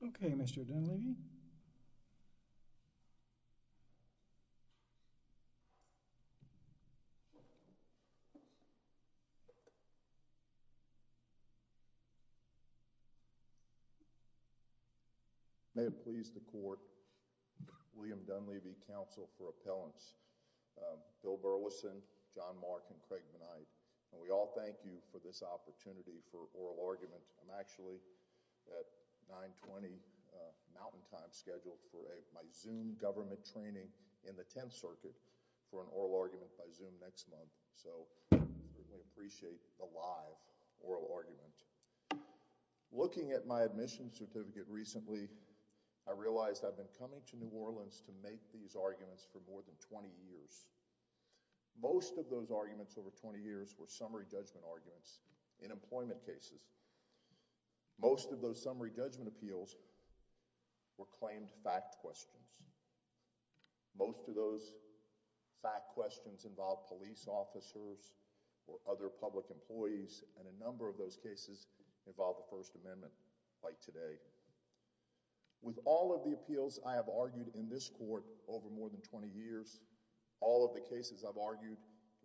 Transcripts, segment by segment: Barrett Cmty District 6 Section of Second Article Third Act Section 1 Things, asumindo my appointment May it please the court, William Dunleavy, counsel for appellants, Bill Burleson, John Mark and Craig Benite, and we all thank you for this opportunity for oral argument. I'm actually at 920 Mountain Time scheduled for my Zoom government training in the 10th Circuit for an oral argument by Zoom next month. So we appreciate the live oral argument. Looking at my admission certificate recently, I realized I've been coming to New Orleans to make these arguments for more than 20 years. Most of those arguments over 20 years were summary judgment arguments in employment cases. Most of those summary judgment appeals were claimed fact questions. Most of those fact questions involved police officers or other public employees and a number of those cases involved the First Amendment like today. With all of the appeals I have argued in this court over more than 20 years, all of the cases I've argued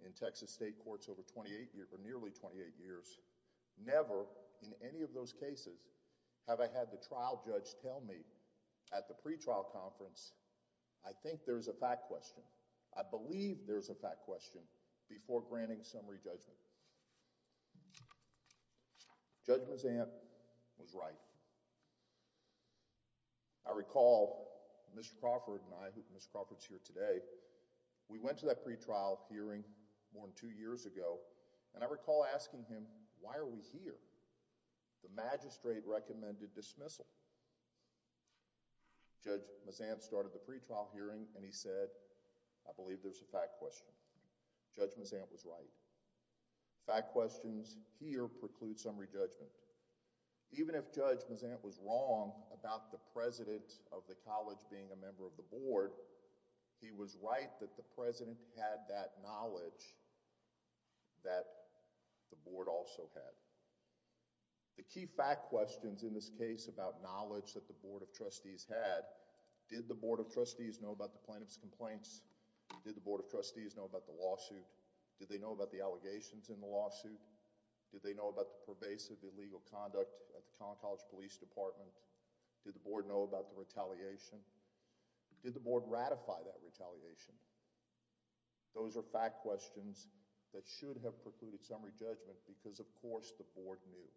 in Texas state courts over 28 years or nearly 28 years, never in any of those cases have I had the trial judge tell me at the pre-trial conference, I think there's a fact question. I believe there's a fact question before granting summary judgment. Judge Mazzant was right. I recall Mr. Crawford and I, Mr. Crawford's here today, we went to that pre-trial hearing more than two years ago and I recall asking him, why are we here? The magistrate recommended dismissal. Judge Mazzant started the pre-trial hearing and he said, I believe there's a fact question. Judge Mazzant was right. Fact questions here preclude summary judgment. Even if Judge Mazzant was wrong about the president of the college being a member of the board, he was right that the president had that knowledge that the board also had. The key fact questions in this case about knowledge that the board of trustees had, did the board of trustees know about the plaintiff's complaints? Did the board of trustees know about the lawsuit? Did they know about the allegations in the lawsuit? Did they know about the pervasive illegal conduct at the Collin College Police Department? Did the board know about the retaliation? Did the board ratify that retaliation? Those are fact questions that should have precluded summary judgment because of course the board knew.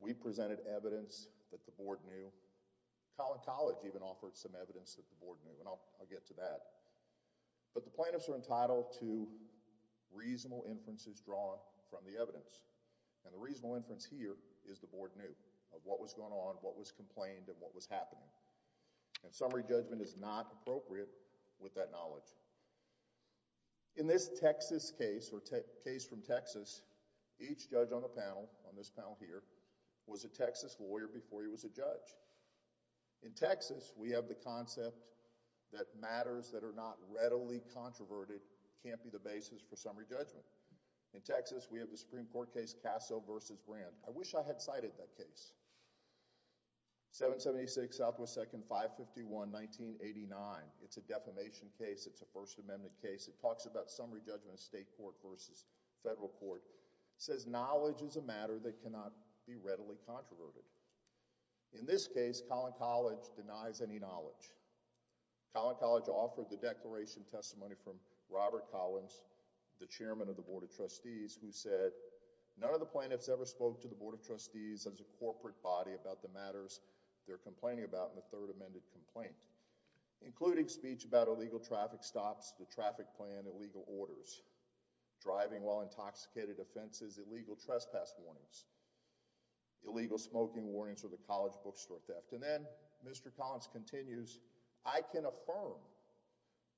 We presented evidence that the board knew. Collin College even offered some evidence that the board knew and I'll get to that. But the plaintiffs are entitled to reasonable inferences drawn from the evidence and the reasonable inference here is the board knew of what was going on, what was complained and what was happening. Summary judgment is not appropriate with that knowledge. In this Texas case or case from Texas, each judge on the panel, on this panel here, was a Texas lawyer before he was a judge. In Texas, we have the concept that matters that are not readily controverted can't be the basis for summary judgment. In Texas, we have the Supreme Court case Casso v. Brandt. I wish I had cited that case. 776 Southwest 2nd 551, 1989. It's a defamation case. It's a First Amendment case. It talks about summary judgment of state court versus federal court. It says knowledge is a matter that cannot be readily controverted. In this case, Collin College denies any knowledge. Collin College offered the declaration testimony from Robert Collins, the chairman of the Board of Trustees, who said none of the plaintiffs ever spoke to the Board of Trustees as a corporate body about the matters they're complaining about in the Third Amendment complaint, including speech about illegal traffic stops, the traffic plan, illegal orders, driving while intoxicated offenses, illegal trespass warnings, illegal smoking warnings, or the College bookstore theft. And then Mr. Collins continues, I can affirm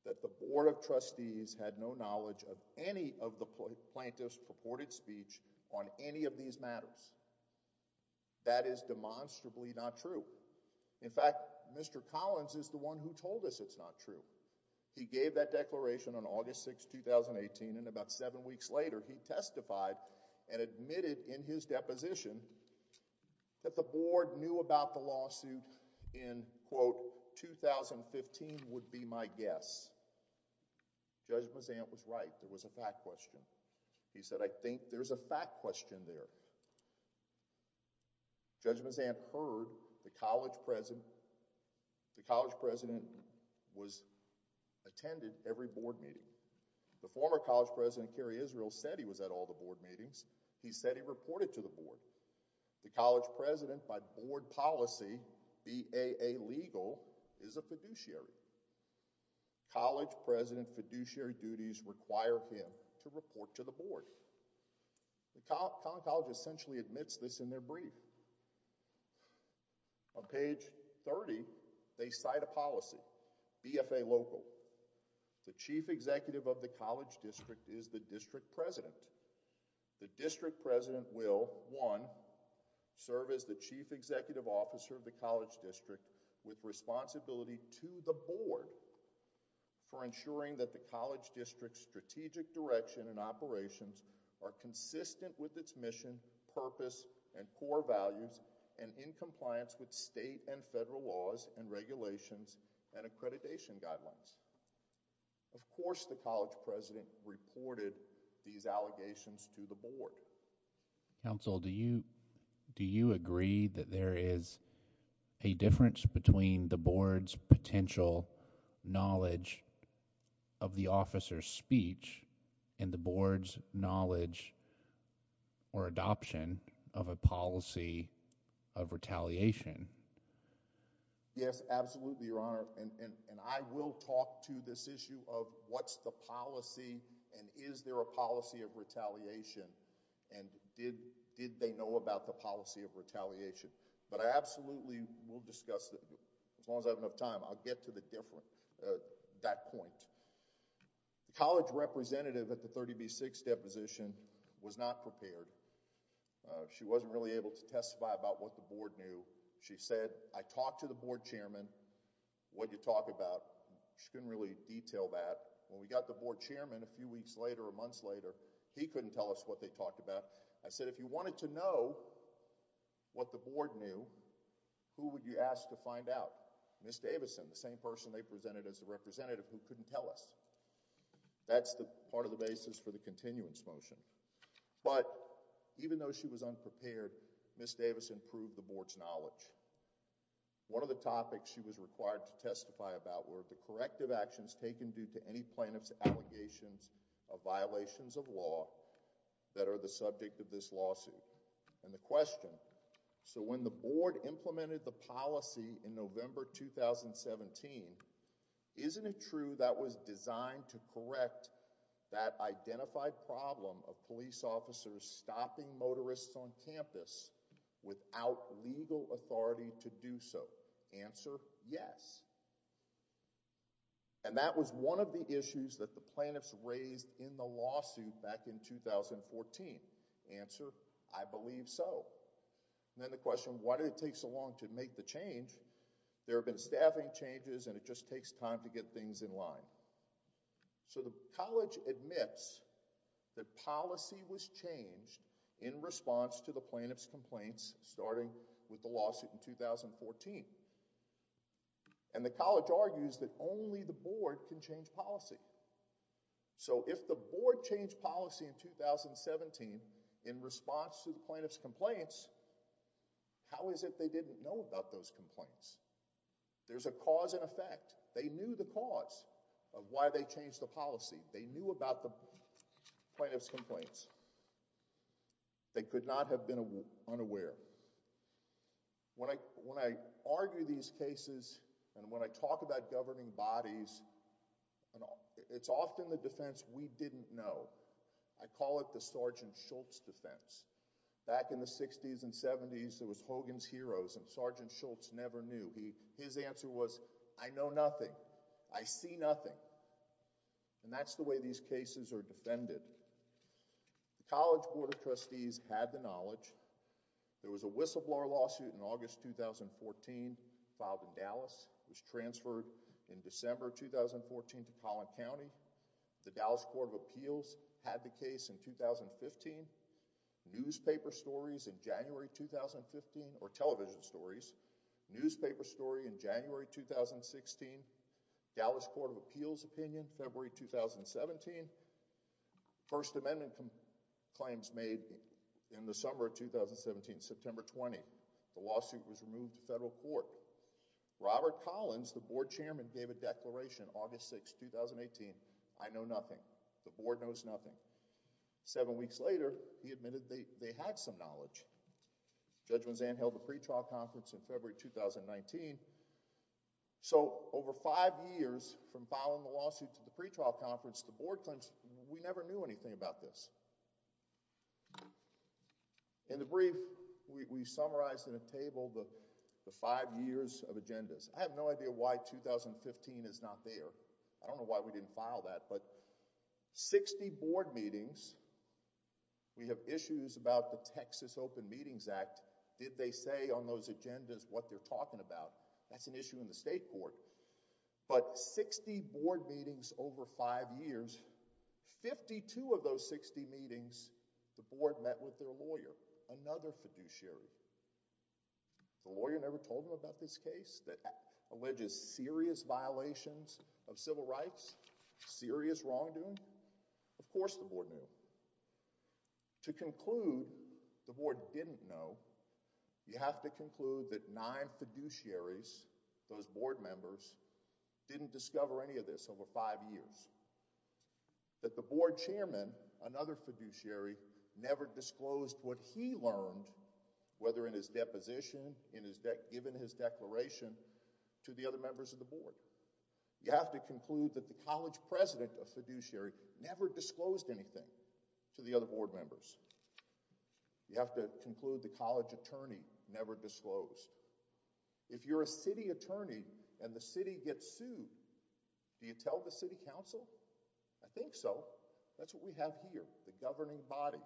that the Board of Trustees had no knowledge of any of the plaintiffs' purported speech on any of these matters. That is demonstrably not true. In fact, Mr. Collins is the one who told us it's not true. He gave that declaration on August 6, 2018, and about seven weeks later, he testified and admitted in his deposition that the Board knew about the lawsuit in quote 2015 would be my guess. Judge Mazant was right. It was a fact question. He said I think there's a fact question there. Judge Mazant heard the college president, the college president was attended every board meeting. The former college president, Kerry Israel, said he was at all the board meetings. He said he reported to the board. The college president by board policy, BAA legal, is a fiduciary. College president fiduciary duties require him to be a fiduciary. The college essentially admits this in their brief. On page 30, they cite a policy, BFA local. The chief executive of the college district is the district president. The district president will, one, serve as the chief executive officer of the college district with responsibility to the board for ensuring that the college district's strategic direction and operations are consistent with its mission, purpose, and core values and in compliance with state and federal laws and regulations and accreditation guidelines. Of course, the college president reported these allegations to the board. Counsel, do you, do you agree that there is a difference between the board's potential knowledge of the officer's speech and the board's knowledge or adoption of a policy of retaliation? Yes, absolutely, your honor. And I will talk to this issue of what's the policy and is there a policy of retaliation and did they know about the policy of retaliation. But I absolutely will discuss, as long as I have enough time, I'll get to that point. The college representative at the 30B6 deposition was not prepared. She wasn't really able to testify about what the board knew. She said, I talked to the board chairman, what did you talk about? She couldn't really detail that. When we got the board chairman a few weeks later or months later, he couldn't tell us what they talked about. I said, if you wanted to know what the board knew, who would you ask to find out? Ms. Davison, the same person they presented as the representative who couldn't tell us. That's the part of the basis for the continuance motion. But even though she was unprepared, Ms. Davison proved the board's knowledge. One of the topics she was required to testify about were the corrective actions taken due to any plaintiff's allegations of violations of law that are the subject of this lawsuit. And the question, so when the board heard the policy in November 2017, isn't it true that was designed to correct that identified problem of police officers stopping motorists on campus without legal authority to do so? Answer, yes. And that was one of the issues that the plaintiffs raised in the lawsuit back in 2014. Answer, I believe so. And then the question, why did it take so long to make the change? There have been staffing changes, and it just takes time to get things in line. So the college admits that policy was changed in response to the plaintiff's complaints starting with the lawsuit in 2014. And the college argues that only the board can change policy. So if the board changed policy in 2017 in response to the plaintiff's complaints, how is it they didn't know about those complaints? There's a cause and effect. They knew the cause of why they changed the policy. They knew about the plaintiff's complaints. They could not have been unaware. When I argue these cases and when I talk about governing bodies, it's often the defense we didn't know. I call it the Sergeant Shultz defense. Back in the 60s and 70s, there was Hogan's Heroes, and Sergeant Shultz never knew. His answer was, I know nothing. I see nothing. And that's the way these cases are defended. The College Board of Trustees had the knowledge. There was a whistleblower lawsuit in August 2014 filed in Dallas. It was transferred in December 2014 to Collin County. The Dallas Court of Appeals had the case in 2015. Newspaper stories in January 2015, or television stories. Newspaper story in January 2016. Dallas Court of Appeals opinion, February 2017. First Amendment claims made in the summer of 2017, September 20. The lawsuit was removed to federal court. Robert Collins, the board chairman, gave a declaration August 6, 2018. I know nothing. The board knows nothing. Seven weeks later, he admitted they had some knowledge. Judge Mazzan held a pretrial conference in February 2019. So over five years from filing the lawsuit to the pretrial conference, the board claims we never knew anything about this. In the brief, we summarized in a table the five years of agendas. I have no idea why 2015 is not there. I don't know why we didn't file that. But 60 board meetings, we have issues about the Texas Open Meetings Act. Did they say on those agendas what they're talking about? That's an issue in the state court. But 60 board meetings over five years, 52 of those 60 meetings, the board met with their lawyer, another fiduciary. The lawyer never told them about this case that alleges serious violations of civil rights, serious wrongdoing? Of course the board knew. To conclude, the board didn't know. You have to conclude that nine fiduciaries, those board members, didn't discover any of this over five years. That the board chairman, another fiduciary, never disclosed what he learned, whether in his deposition, given his declaration, to the other members of the board. You have to conclude that the college president of fiduciary never disclosed anything to the other board members. You have to conclude the college attorney never disclosed. If you're a city attorney and the city gets sued, do you tell the city council? I think so. That's what we have here, the governing body.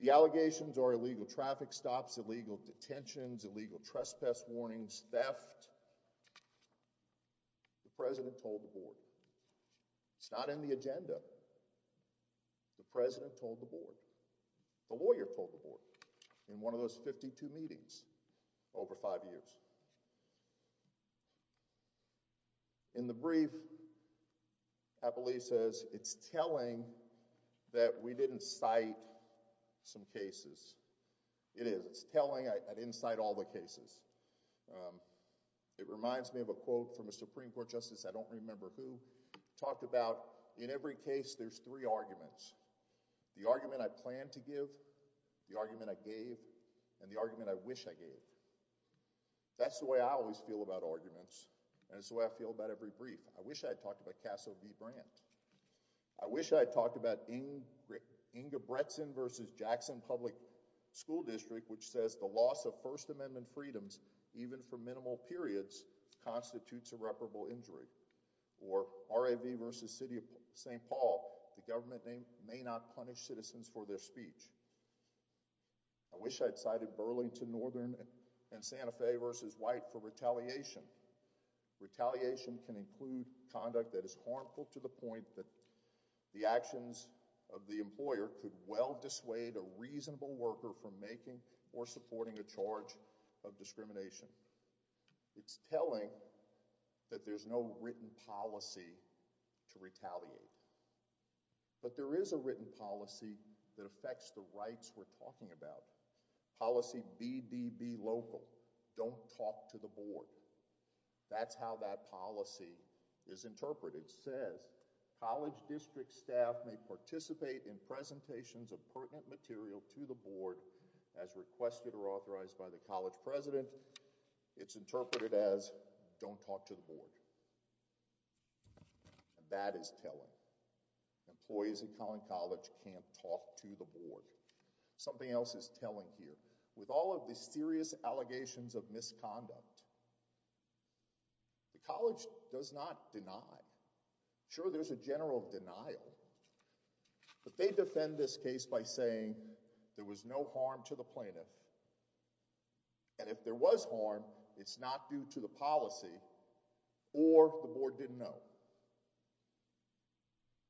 The allegations are illegal traffic stops, illegal detentions, illegal trespass warnings, theft. The president told the board. It's not in the agenda. The president told the board. The lawyer told the board in one of those 52 meetings over five years. In the brief, Apolli says it's telling that we didn't cite some cases. It is. It's telling. I didn't cite all the cases. It reminds me of a quote from a Supreme Court justice, I don't remember who, talked about in every case there's three arguments. I wish I gave. That's the way I always feel about arguments, and it's the way I feel about every brief. I wish I had talked about Casso v. Brandt. I wish I had talked about Inge Bretzen v. Jackson Public School District, which says the loss of First Amendment freedoms, even for minimal periods, constitutes irreparable injury. Or R.A.V. v. City of St. Paul, the government may not punish citizens for their speech. I wish I had cited Burlington Northern and Santa Fe v. White for retaliation. Retaliation can include conduct that is harmful to the point that the actions of the employer could well dissuade a reasonable worker from making or supporting a charge of discrimination. It's telling that there's no written policy to retaliate. But there is a written policy that policy B.D.B. local, don't talk to the board. That's how that policy is interpreted. It says, college district staff may participate in presentations of pertinent material to the board as requested or authorized by the college president. It's interpreted as, don't talk to the board. That is telling. Employees at Collin College can't talk to the board. Something else is telling here. With all of the serious allegations of misconduct, the college does not deny. Sure, there's a general denial. But they defend this case by saying there was no harm to the plaintiff. And if there was harm, it's not due to the policy or the board didn't know.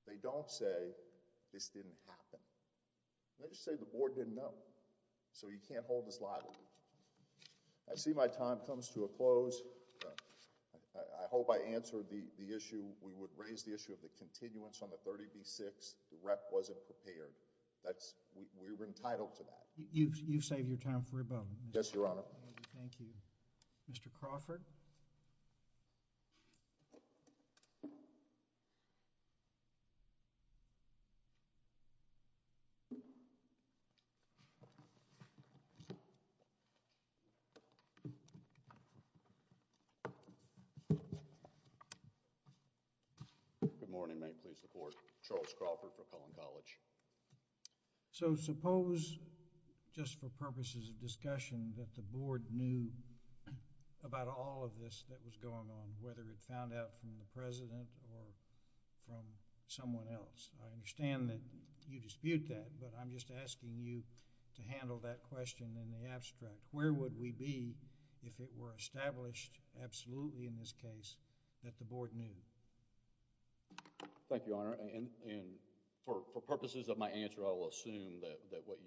They don't say this didn't happen. They're just telling the board didn't know. So you can't hold this liable. I see my time comes to a close. I hope I answered the issue. We would raise the issue of the continuance on the 30B-6. The rep wasn't prepared. We were entitled to that. You've saved your time for a moment. Yes, Your Honor. Thank you. Mr. Crawford? Good morning. May it please the court. Charles Crawford for Collin College. So suppose, just for purposes of discussion, that the board knew about all of this that was going on, whether it found out from the president or from someone else. I understand that you dispute that, but I'm just asking you to handle that question in the abstract. Where would we be if it were established absolutely in this case that the board knew? Thank you, Your Honor. And for purposes of my answer, I will assume that what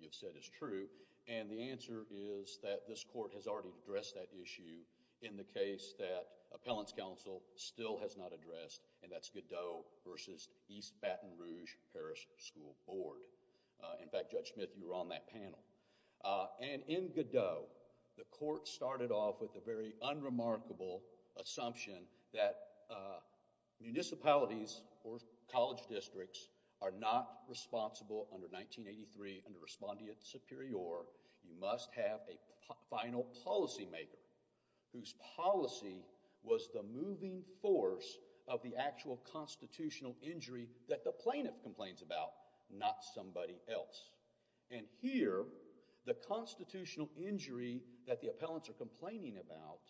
you've said is true. And the answer is that this court has already addressed that issue in the case that Appellant's Counsel still has not addressed, and that's Godot v. East Paris School Board. In fact, Judge Smith, you were on that panel. And in Godot, the court started off with the very unremarkable assumption that municipalities or college districts are not responsible under 1983 under respondeat superior. You must have a final policymaker whose policy was the moving force of the actual constitutional injury that the appellant complains about, not somebody else. And here, the constitutional injury that the appellants are complaining about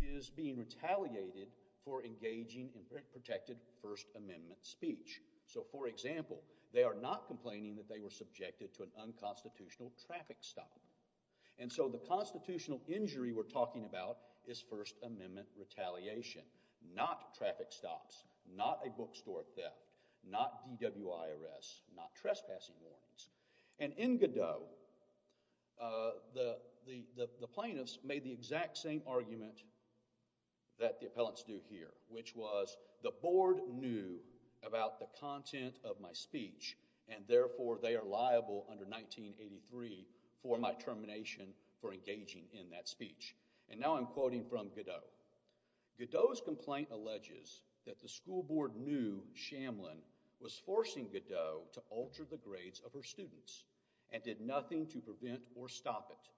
is being retaliated for engaging in protected First Amendment speech. So, for example, they are not complaining that they were subjected to an unconstitutional traffic stop. And so the constitutional injury we're talking about is First Amendment retaliation, not traffic stops, not a bookstore theft, not DWIRS, not trespassing warnings. And in Godot, the plaintiffs made the exact same argument that the appellants do here, which was the board knew about the content of my speech, and therefore they are quoting from Godot. Godot's complaint alleges that the school board knew Shamblin was forcing Godot to alter the grades of her students and did nothing to prevent or stop it.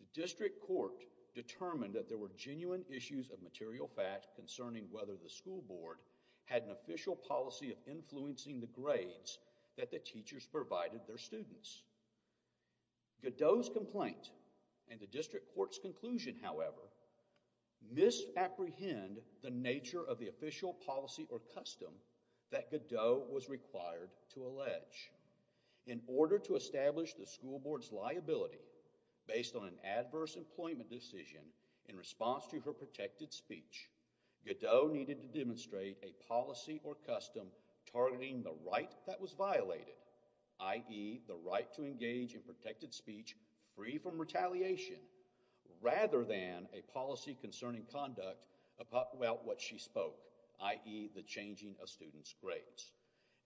The district court determined that there were genuine issues of material fact concerning whether the school board had an official policy of influencing the grades that the teachers provided their students. Godot's complaint and the district court's conclusion, however, misapprehend the nature of the official policy or custom that Godot was required to allege. In order to establish the school board's liability based on an adverse employment decision in response to her protected speech, Godot needed to demonstrate a policy or custom targeting the right that was violated, i.e., the right to engage in protected speech free from retaliation rather than a policy concerning conduct about what she spoke, i.e., the changing of students' grades.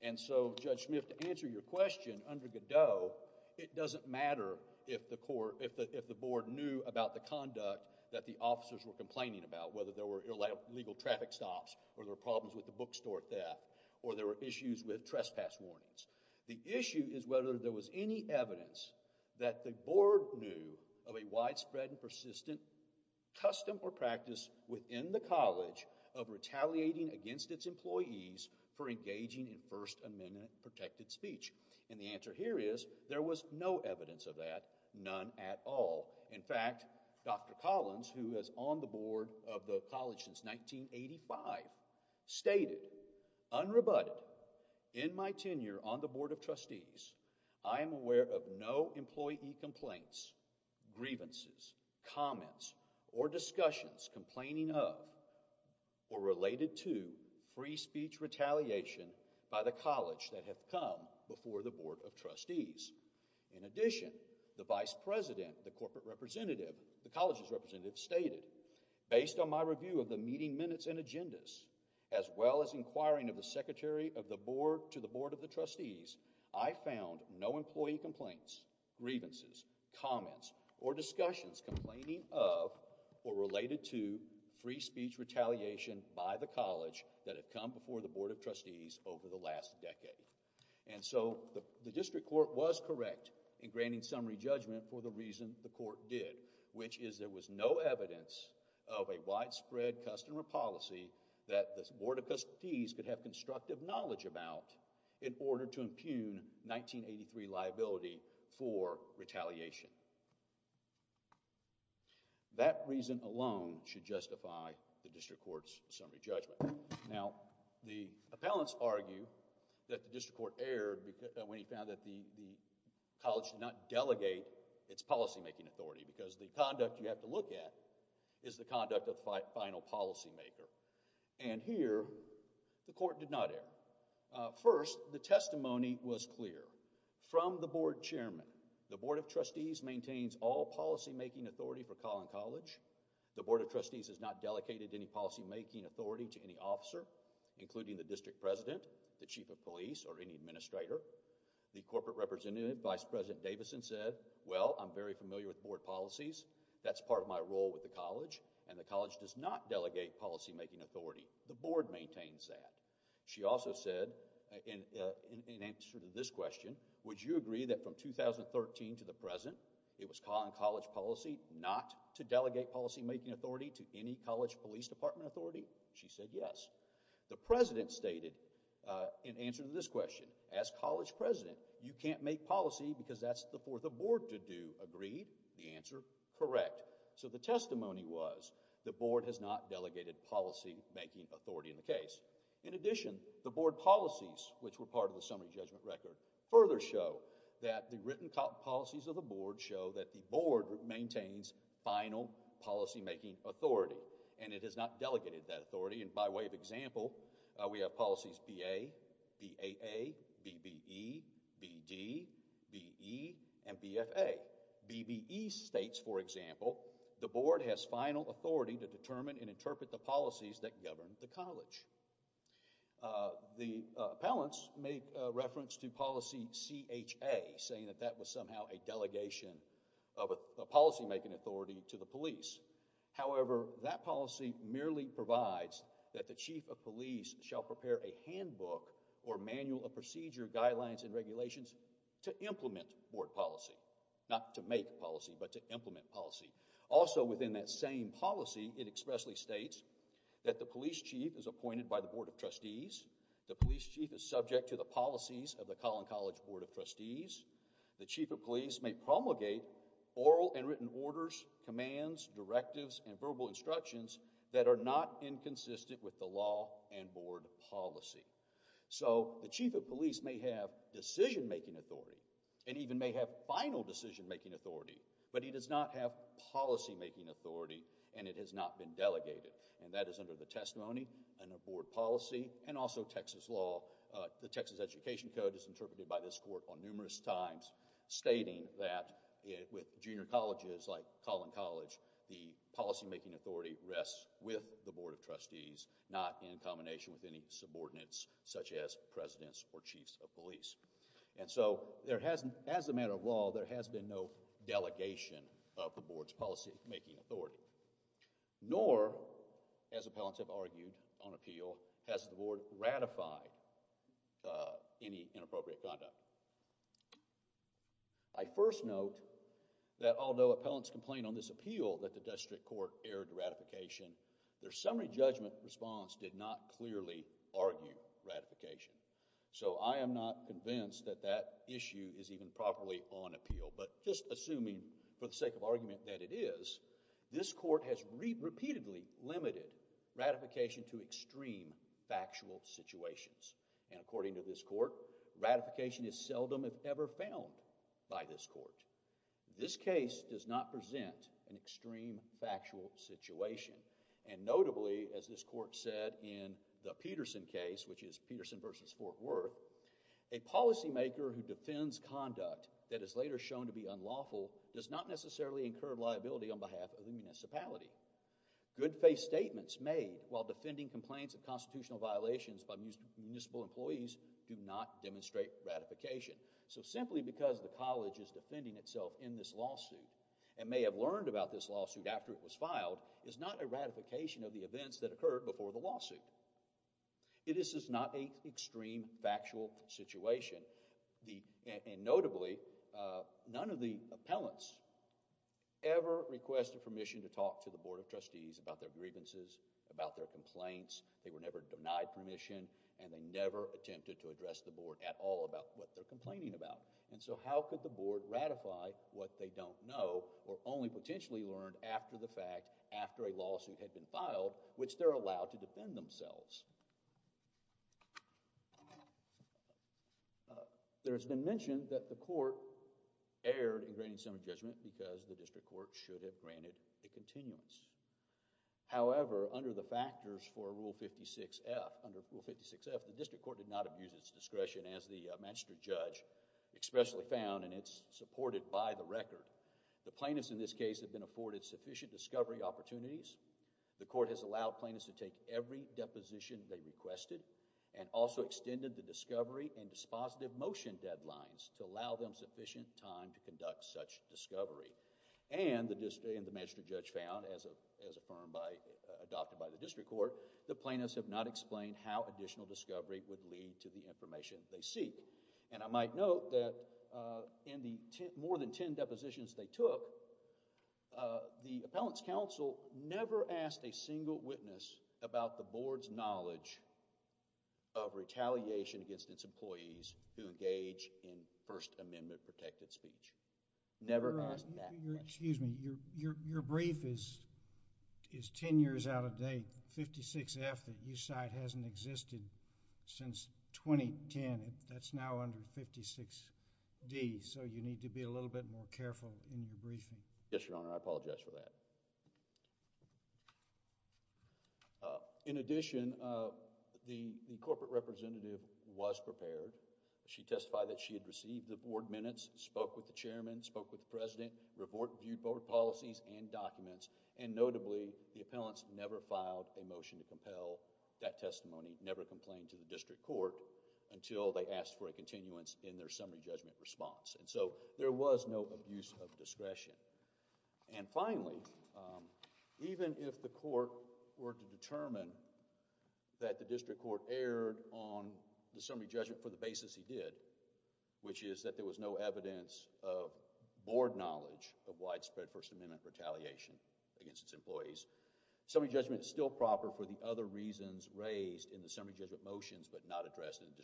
And so, Judge Smith, to answer your question, under Godot, it doesn't matter if the board knew about the conduct that the officers were complaining about, whether there were illegal traffic stops or there were problems with the bookstore theft or there were issues with trespass warnings. The issue is whether there was any evidence that the board knew of a widespread and persistent custom or practice within the college of retaliating against its employees for engaging in First Amendment protected speech. And the answer here is there was no evidence of that, none at all. In fact, Dr. Collins, who has owned the board of the In my tenure on the board of trustees, I am aware of no employee complaints, grievances, comments, or discussions complaining of or related to free speech retaliation by the college that have come before the board of trustees. In addition, the vice president, the corporate representative, the college's representative stated, based on my review of the meeting minutes and agendas, as well as inquiring of the secretary of the board to the board of the trustees, I found no employee complaints, grievances, comments, or discussions complaining of or related to free speech retaliation by the college that have come before the board of trustees over the last decade. And so, the district court was correct in granting summary judgment for the reason the court did, which is there was no evidence of a widespread custom or policy that the board of trustees could have constructive knowledge about in order to impugn 1983 liability for retaliation. That reason alone should justify the district court's summary judgment. Now, the appellants argue that the district court erred when he found that the college did not delegate its policymaking authority because the conduct you have to look at is the conduct of the final policymaker. And here, the court did not err. First, the testimony was clear. From the board chairman, the board of trustees maintains all policymaking authority for Collin College. The board of trustees has not delegated any policymaking authority to any officer, including the district president, the chief of police, or any administrator. The corporate representative, Vice President Davison, said, well, I'm very familiar with board policies. That's part of my role with the college, and the college does not delegate policymaking authority. The board maintains that. She also said, in answer to this question, would you agree that from 2013 to the present, it was Collin College policy not to delegate policymaking authority to any college police department authority? She said yes. The president stated, in answer to this question, as college president, you can't make policy because that's for the board to do. Agreed? The answer, correct. So the testimony was, the board has not delegated policymaking authority in the case. In addition, the board policies, which were part of the summary judgment record, further show that the written policies of the board show that the board maintains final policymaking authority, and it has not delegated that authority, and by way of example, we have policies BA, BAA, BBE, BD, BE, and BFA. BBE states, for example, the board has final authority to determine and interpret the policies that govern the college. The appellants made reference to policy CHA, saying that that was somehow a delegation of a policymaking authority to the police. However, that policy merely provides that the chief of police shall prepare a handbook or manual of procedure guidelines and regulations to implement board policy, not to make policy, but to implement policy. Also, within that same policy, it expressly states that the police chief is appointed by the board of trustees, the police chief is subject to the policies of the Collin College board of trustees, the chief of police may promulgate oral and hands, directives, and verbal instructions that are not inconsistent with the law and board policy. So, the chief of police may have decision-making authority, and even may have final decision-making authority, but he does not have policymaking authority, and it has not been delegated, and that is under the testimony and the board policy, and also Texas law. The Texas Education Code is interpreted by this court on numerous times, stating that with junior colleges like Collin College, the policymaking authority rests with the board of trustees, not in combination with any subordinates, such as presidents or chiefs of police. And so, as a matter of law, there has been no delegation of the board's policymaking authority, nor, as appellants have argued on appeal, has the board ratified any inappropriate conduct. I first note that although appellants complain on this appeal that the district court erred ratification, their summary judgment response did not clearly argue ratification. So I am not convinced that that issue is even properly on appeal, but just assuming for the sake of argument that it is, this court has repeatedly limited ratification to extreme factual situations, and according to this court, ratification is seldom, if ever, found by this court. This case does not present an extreme factual situation, and notably, as this court said in the Peterson case, which is Peterson versus Fort Worth, a policymaker who defends conduct that is later shown to be unlawful does not necessarily incur liability on behalf of the municipality. Good faith statements made while defending complaints of constitutional violations by municipal employees do not demonstrate ratification. So simply because the college is defending itself in this lawsuit and may have learned about this lawsuit after it was filed is not a ratification of the events that occurred before the lawsuit. This is not an extreme factual situation, and notably, none of the courts requested permission to talk to the Board of Trustees about their grievances, about their complaints. They were never denied permission, and they never attempted to address the board at all about what they're complaining about, and so how could the board ratify what they don't know or only potentially learn after the fact, after a lawsuit had been filed, which they're allowed to defend themselves. There has been mention that the court erred in granting some judgment because the district court should have granted a continuance. However, under the factors for Rule 56F, the district court did not abuse its discretion as the magistrate judge expressly found, and it's supported by the record. The plaintiffs in this case have been afforded sufficient discovery opportunities. The court has allowed plaintiffs to take every deposition they requested and also extended the discovery and dispositive motion deadlines to allow them sufficient time to conduct such discovery, and the magistrate judge found, as affirmed by... adopted by the district court, the plaintiffs have not explained how additional discovery would lead to the information they seek, and I might note that in the more than ten depositions they took, the appellant's counsel never asked a single witness about the board's knowledge of retaliation against its employees who engage in First Amendment protected speech. Never asked that much. Your, excuse me, your, your brief is, is ten years out of date. The 56F that you cite hasn't existed since 2010. That's now under 56D, so you need to be a little bit more careful in your briefing. Yes, Your Honor, I apologize for that. In addition, the, the corporate representative was prepared. She testified that she had received the board minutes, spoke with the chairman, spoke with the president, reviewed board policies and documents, and notably, the appellants never filed a motion to compel that testimony. Never complained to the district court until they asked for a continuance in their summary judgment response, and so there was no abuse of discretion. And finally, even if the court were to determine that the district court erred on the summary judgment for the basis he did, which is that there was no evidence of board knowledge of widespread First Amendment retaliation against its employees, summary judgment is still proper for the other reasons raised in the summary judgment motions but not addressed in the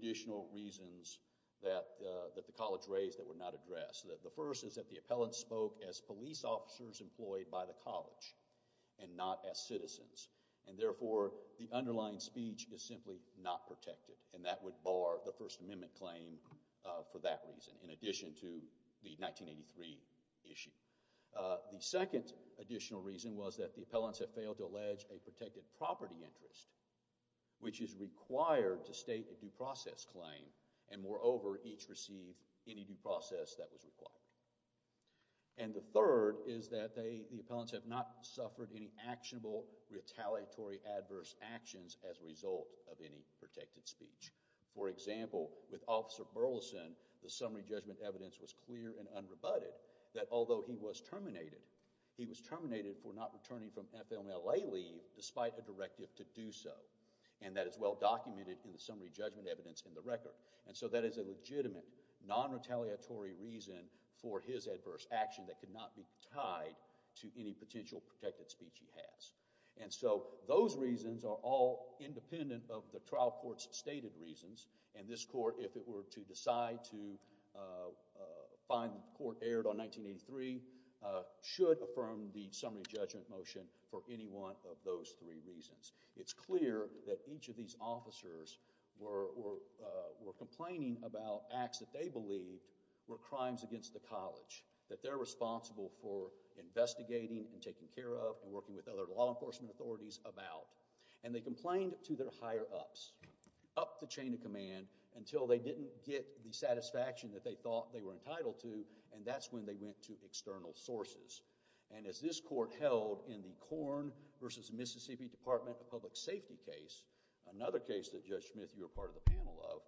additional reasons that the college raised that were not addressed. The first is that the appellants spoke as police officers employed by the college and not as citizens, and therefore the underlying speech is simply not protected, and that would bar the First Amendment claim for that reason in addition to the 1983 issue. The second additional reason was that the appellants had failed to allege a protected property interest, which is required to state a due process claim, and moreover, each received any due process that was required. And the third is that the appellants have not suffered any actionable, retaliatory, adverse actions as a result of any protected speech. For example, with Officer Burleson, the summary judgment evidence was clear and unrebutted that although he was terminated, he was terminated for not returning from FMLA leave despite a directive to do so, and that is well documented in the summary judgment evidence in the record. And so that is a legitimate, non-retaliatory reason for his adverse action that could not be tied to any potential protected speech he has. And so those reasons are all independent of the trial court's stated reasons, and this court, if it were to decide to find the court aired on 1983, should affirm the summary judgment motion for any one of those three reasons. It's clear that each of these officers were complaining about acts that they believed were crimes against the college, that they're responsible for investigating and taking care of and working with other law enforcement authorities about. And they complained to their higher ups, up the chain of command, until they didn't get the satisfaction that they thought they were entitled to, and that's when they went to external sources. And as this court held in the Corn v. Mississippi Department of Public Safety case, another case that Judge Smith, you were part of the panel of,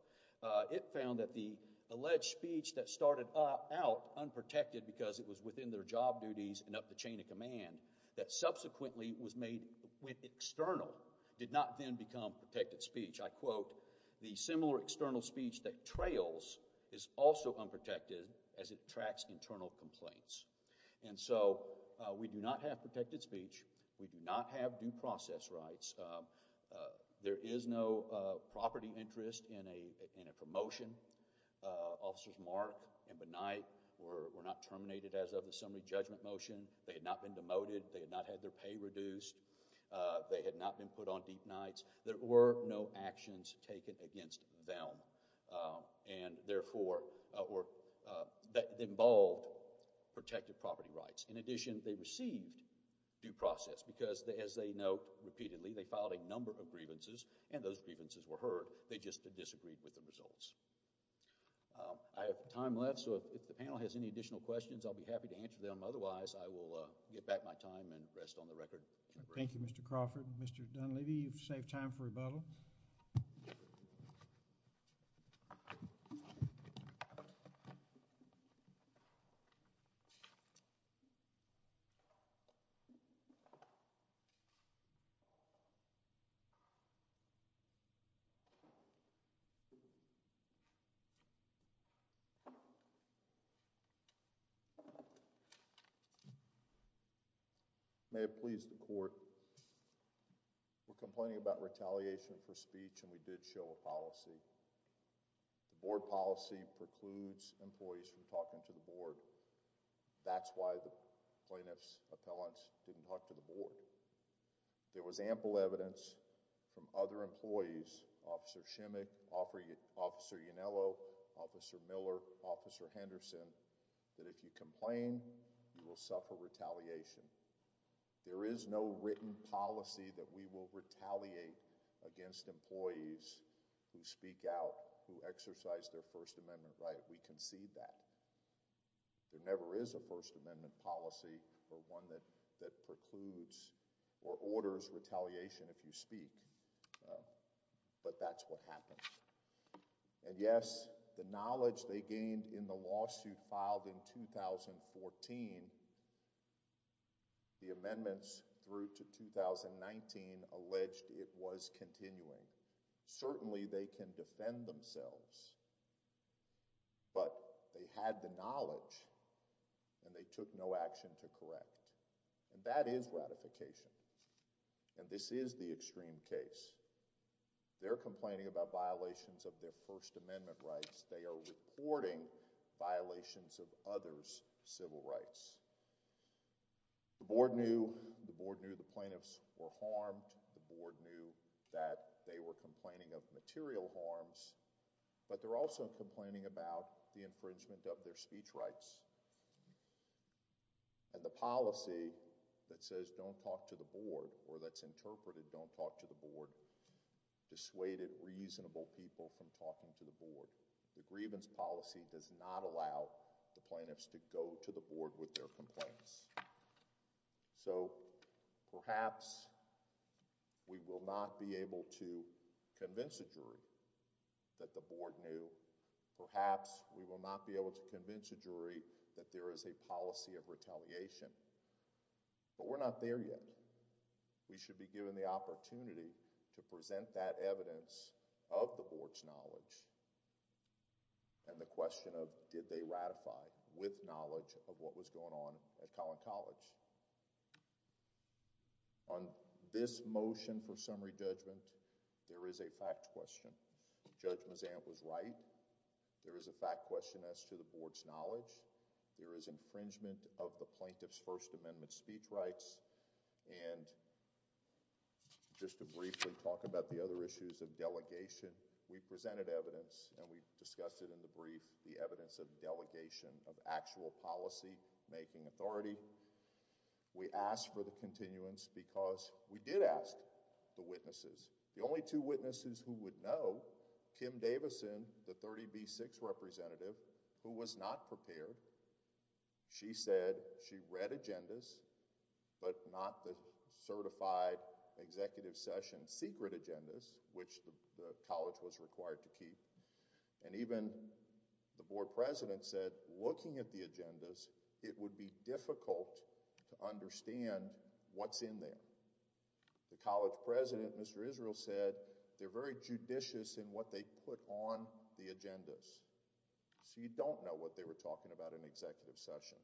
it found that the alleged speech that started out unprotected because it was within their job duties and up the chain of command, that subsequently was made external, did not then become protected speech. I quote, the similar external speech that trails is also unprotected as it tracks internal complaints. And so we do not have protected speech. We do not have due process rights. There is no property interest in a promotion. Officers Mark and Benight were not terminated as of the summary judgment motion. They had not been demoted. They had not had their pay reduced. They had not been put on deep nights. There were no actions taken against them, and therefore, or that involved protected property rights. In addition, they received due process because, as they note repeatedly, they filed a number of grievances, and those grievances were heard. They just disagreed with the results. I have time left, so if the panel has any additional questions, I'll be happy to answer them. Otherwise, I will get back my time and rest on the record. Thank you, Mr. Crawford. Mr. Dunleavy, you've saved time for rebuttal. May it please the court. We're complaining about retaliation for speech, and we did show a policy. The board policy precludes employees from talking to the board. That's why the board has a policy that, if you complain, you will suffer retaliation. There is no written policy that we will retaliate against employees who speak out, who exercise their First Amendment right. We concede that. There never is a First Amendment policy or one that precludes or violates speech, but that's what happens. Yes, the knowledge they gained in the lawsuit filed in 2014, the amendments through to 2019 alleged it was continuing. Certainly, they can defend themselves, but they had the knowledge, and they took no action to correct, and that is ratification. This is the extreme case. They're complaining about violations of their First Amendment rights. They are reporting violations of others' civil rights. The board knew the plaintiffs were harmed. The board knew that they were complaining of material harms, but they're also complaining about the infringement of their speech rights, and the policy that says, don't talk to the board, or that's interpreted, don't talk to the board, dissuaded reasonable people from talking to the board. The grievance policy does not allow the plaintiffs to go to the board with their complaints. Perhaps, we will not be able to convince a jury that the board knew. Perhaps, we will not be able to convince a jury that there is a policy of retaliation, but we're not there yet. We should be given the opportunity to present that evidence of the board's knowledge, and the question of did they ratify with knowledge of what was going on at Collin College. On this motion for summary judgment, there is a fact question. Judge Mazant was right. There is a fact question as to the board's knowledge. There is infringement of the plaintiff's First Amendment speech rights. Just to briefly talk about the other issues of delegation, we presented evidence, and we discussed it in the brief, the evidence of delegation of actual policy making authority. We asked for the continuance because we did ask the witnesses. The only two witnesses who would know, Kim Davison, the 30B6 representative, who was not prepared, she said she read agendas, but not the certified executive session secret agendas, which the college was required to keep. Even the board president said, looking at the agendas, it would be difficult to understand what's in there. The college president, Mr. Israel, said they're very judicious in what they put on the agendas, so you don't know what they were talking about in the executive session.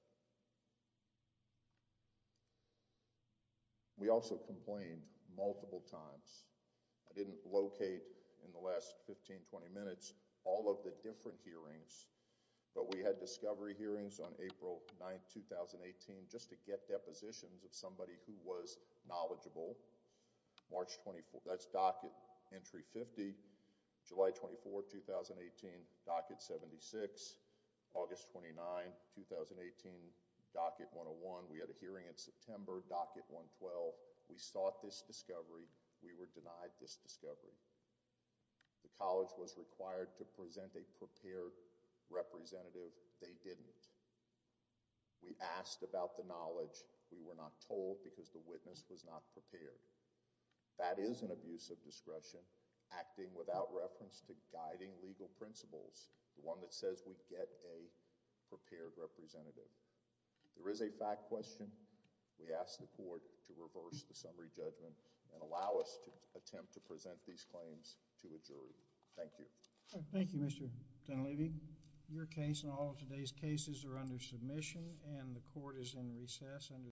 We also complained multiple times. I didn't locate in the last 15, 20 minutes all of the different hearings, but we had discovery hearings on April 9, 2018, just to get depositions of somebody who was knowledgeable. March 24, that's docket entry 50. July 24, 2018, docket 76. August 29, 2018, docket 101. We had a hearing in September, docket 112. We sought this discovery. We were denied this discovery. The college was required to present a prepared representative. They didn't. We asked about the knowledge. We were not told because the witness was not prepared. That is an abuse of discretion, acting without reference to guiding legal principles, the one that says we get a prepared representative. There is a fact question. We ask the court to reverse the summary judgment and allow us to attempt to present these claims to a jury. Thank you.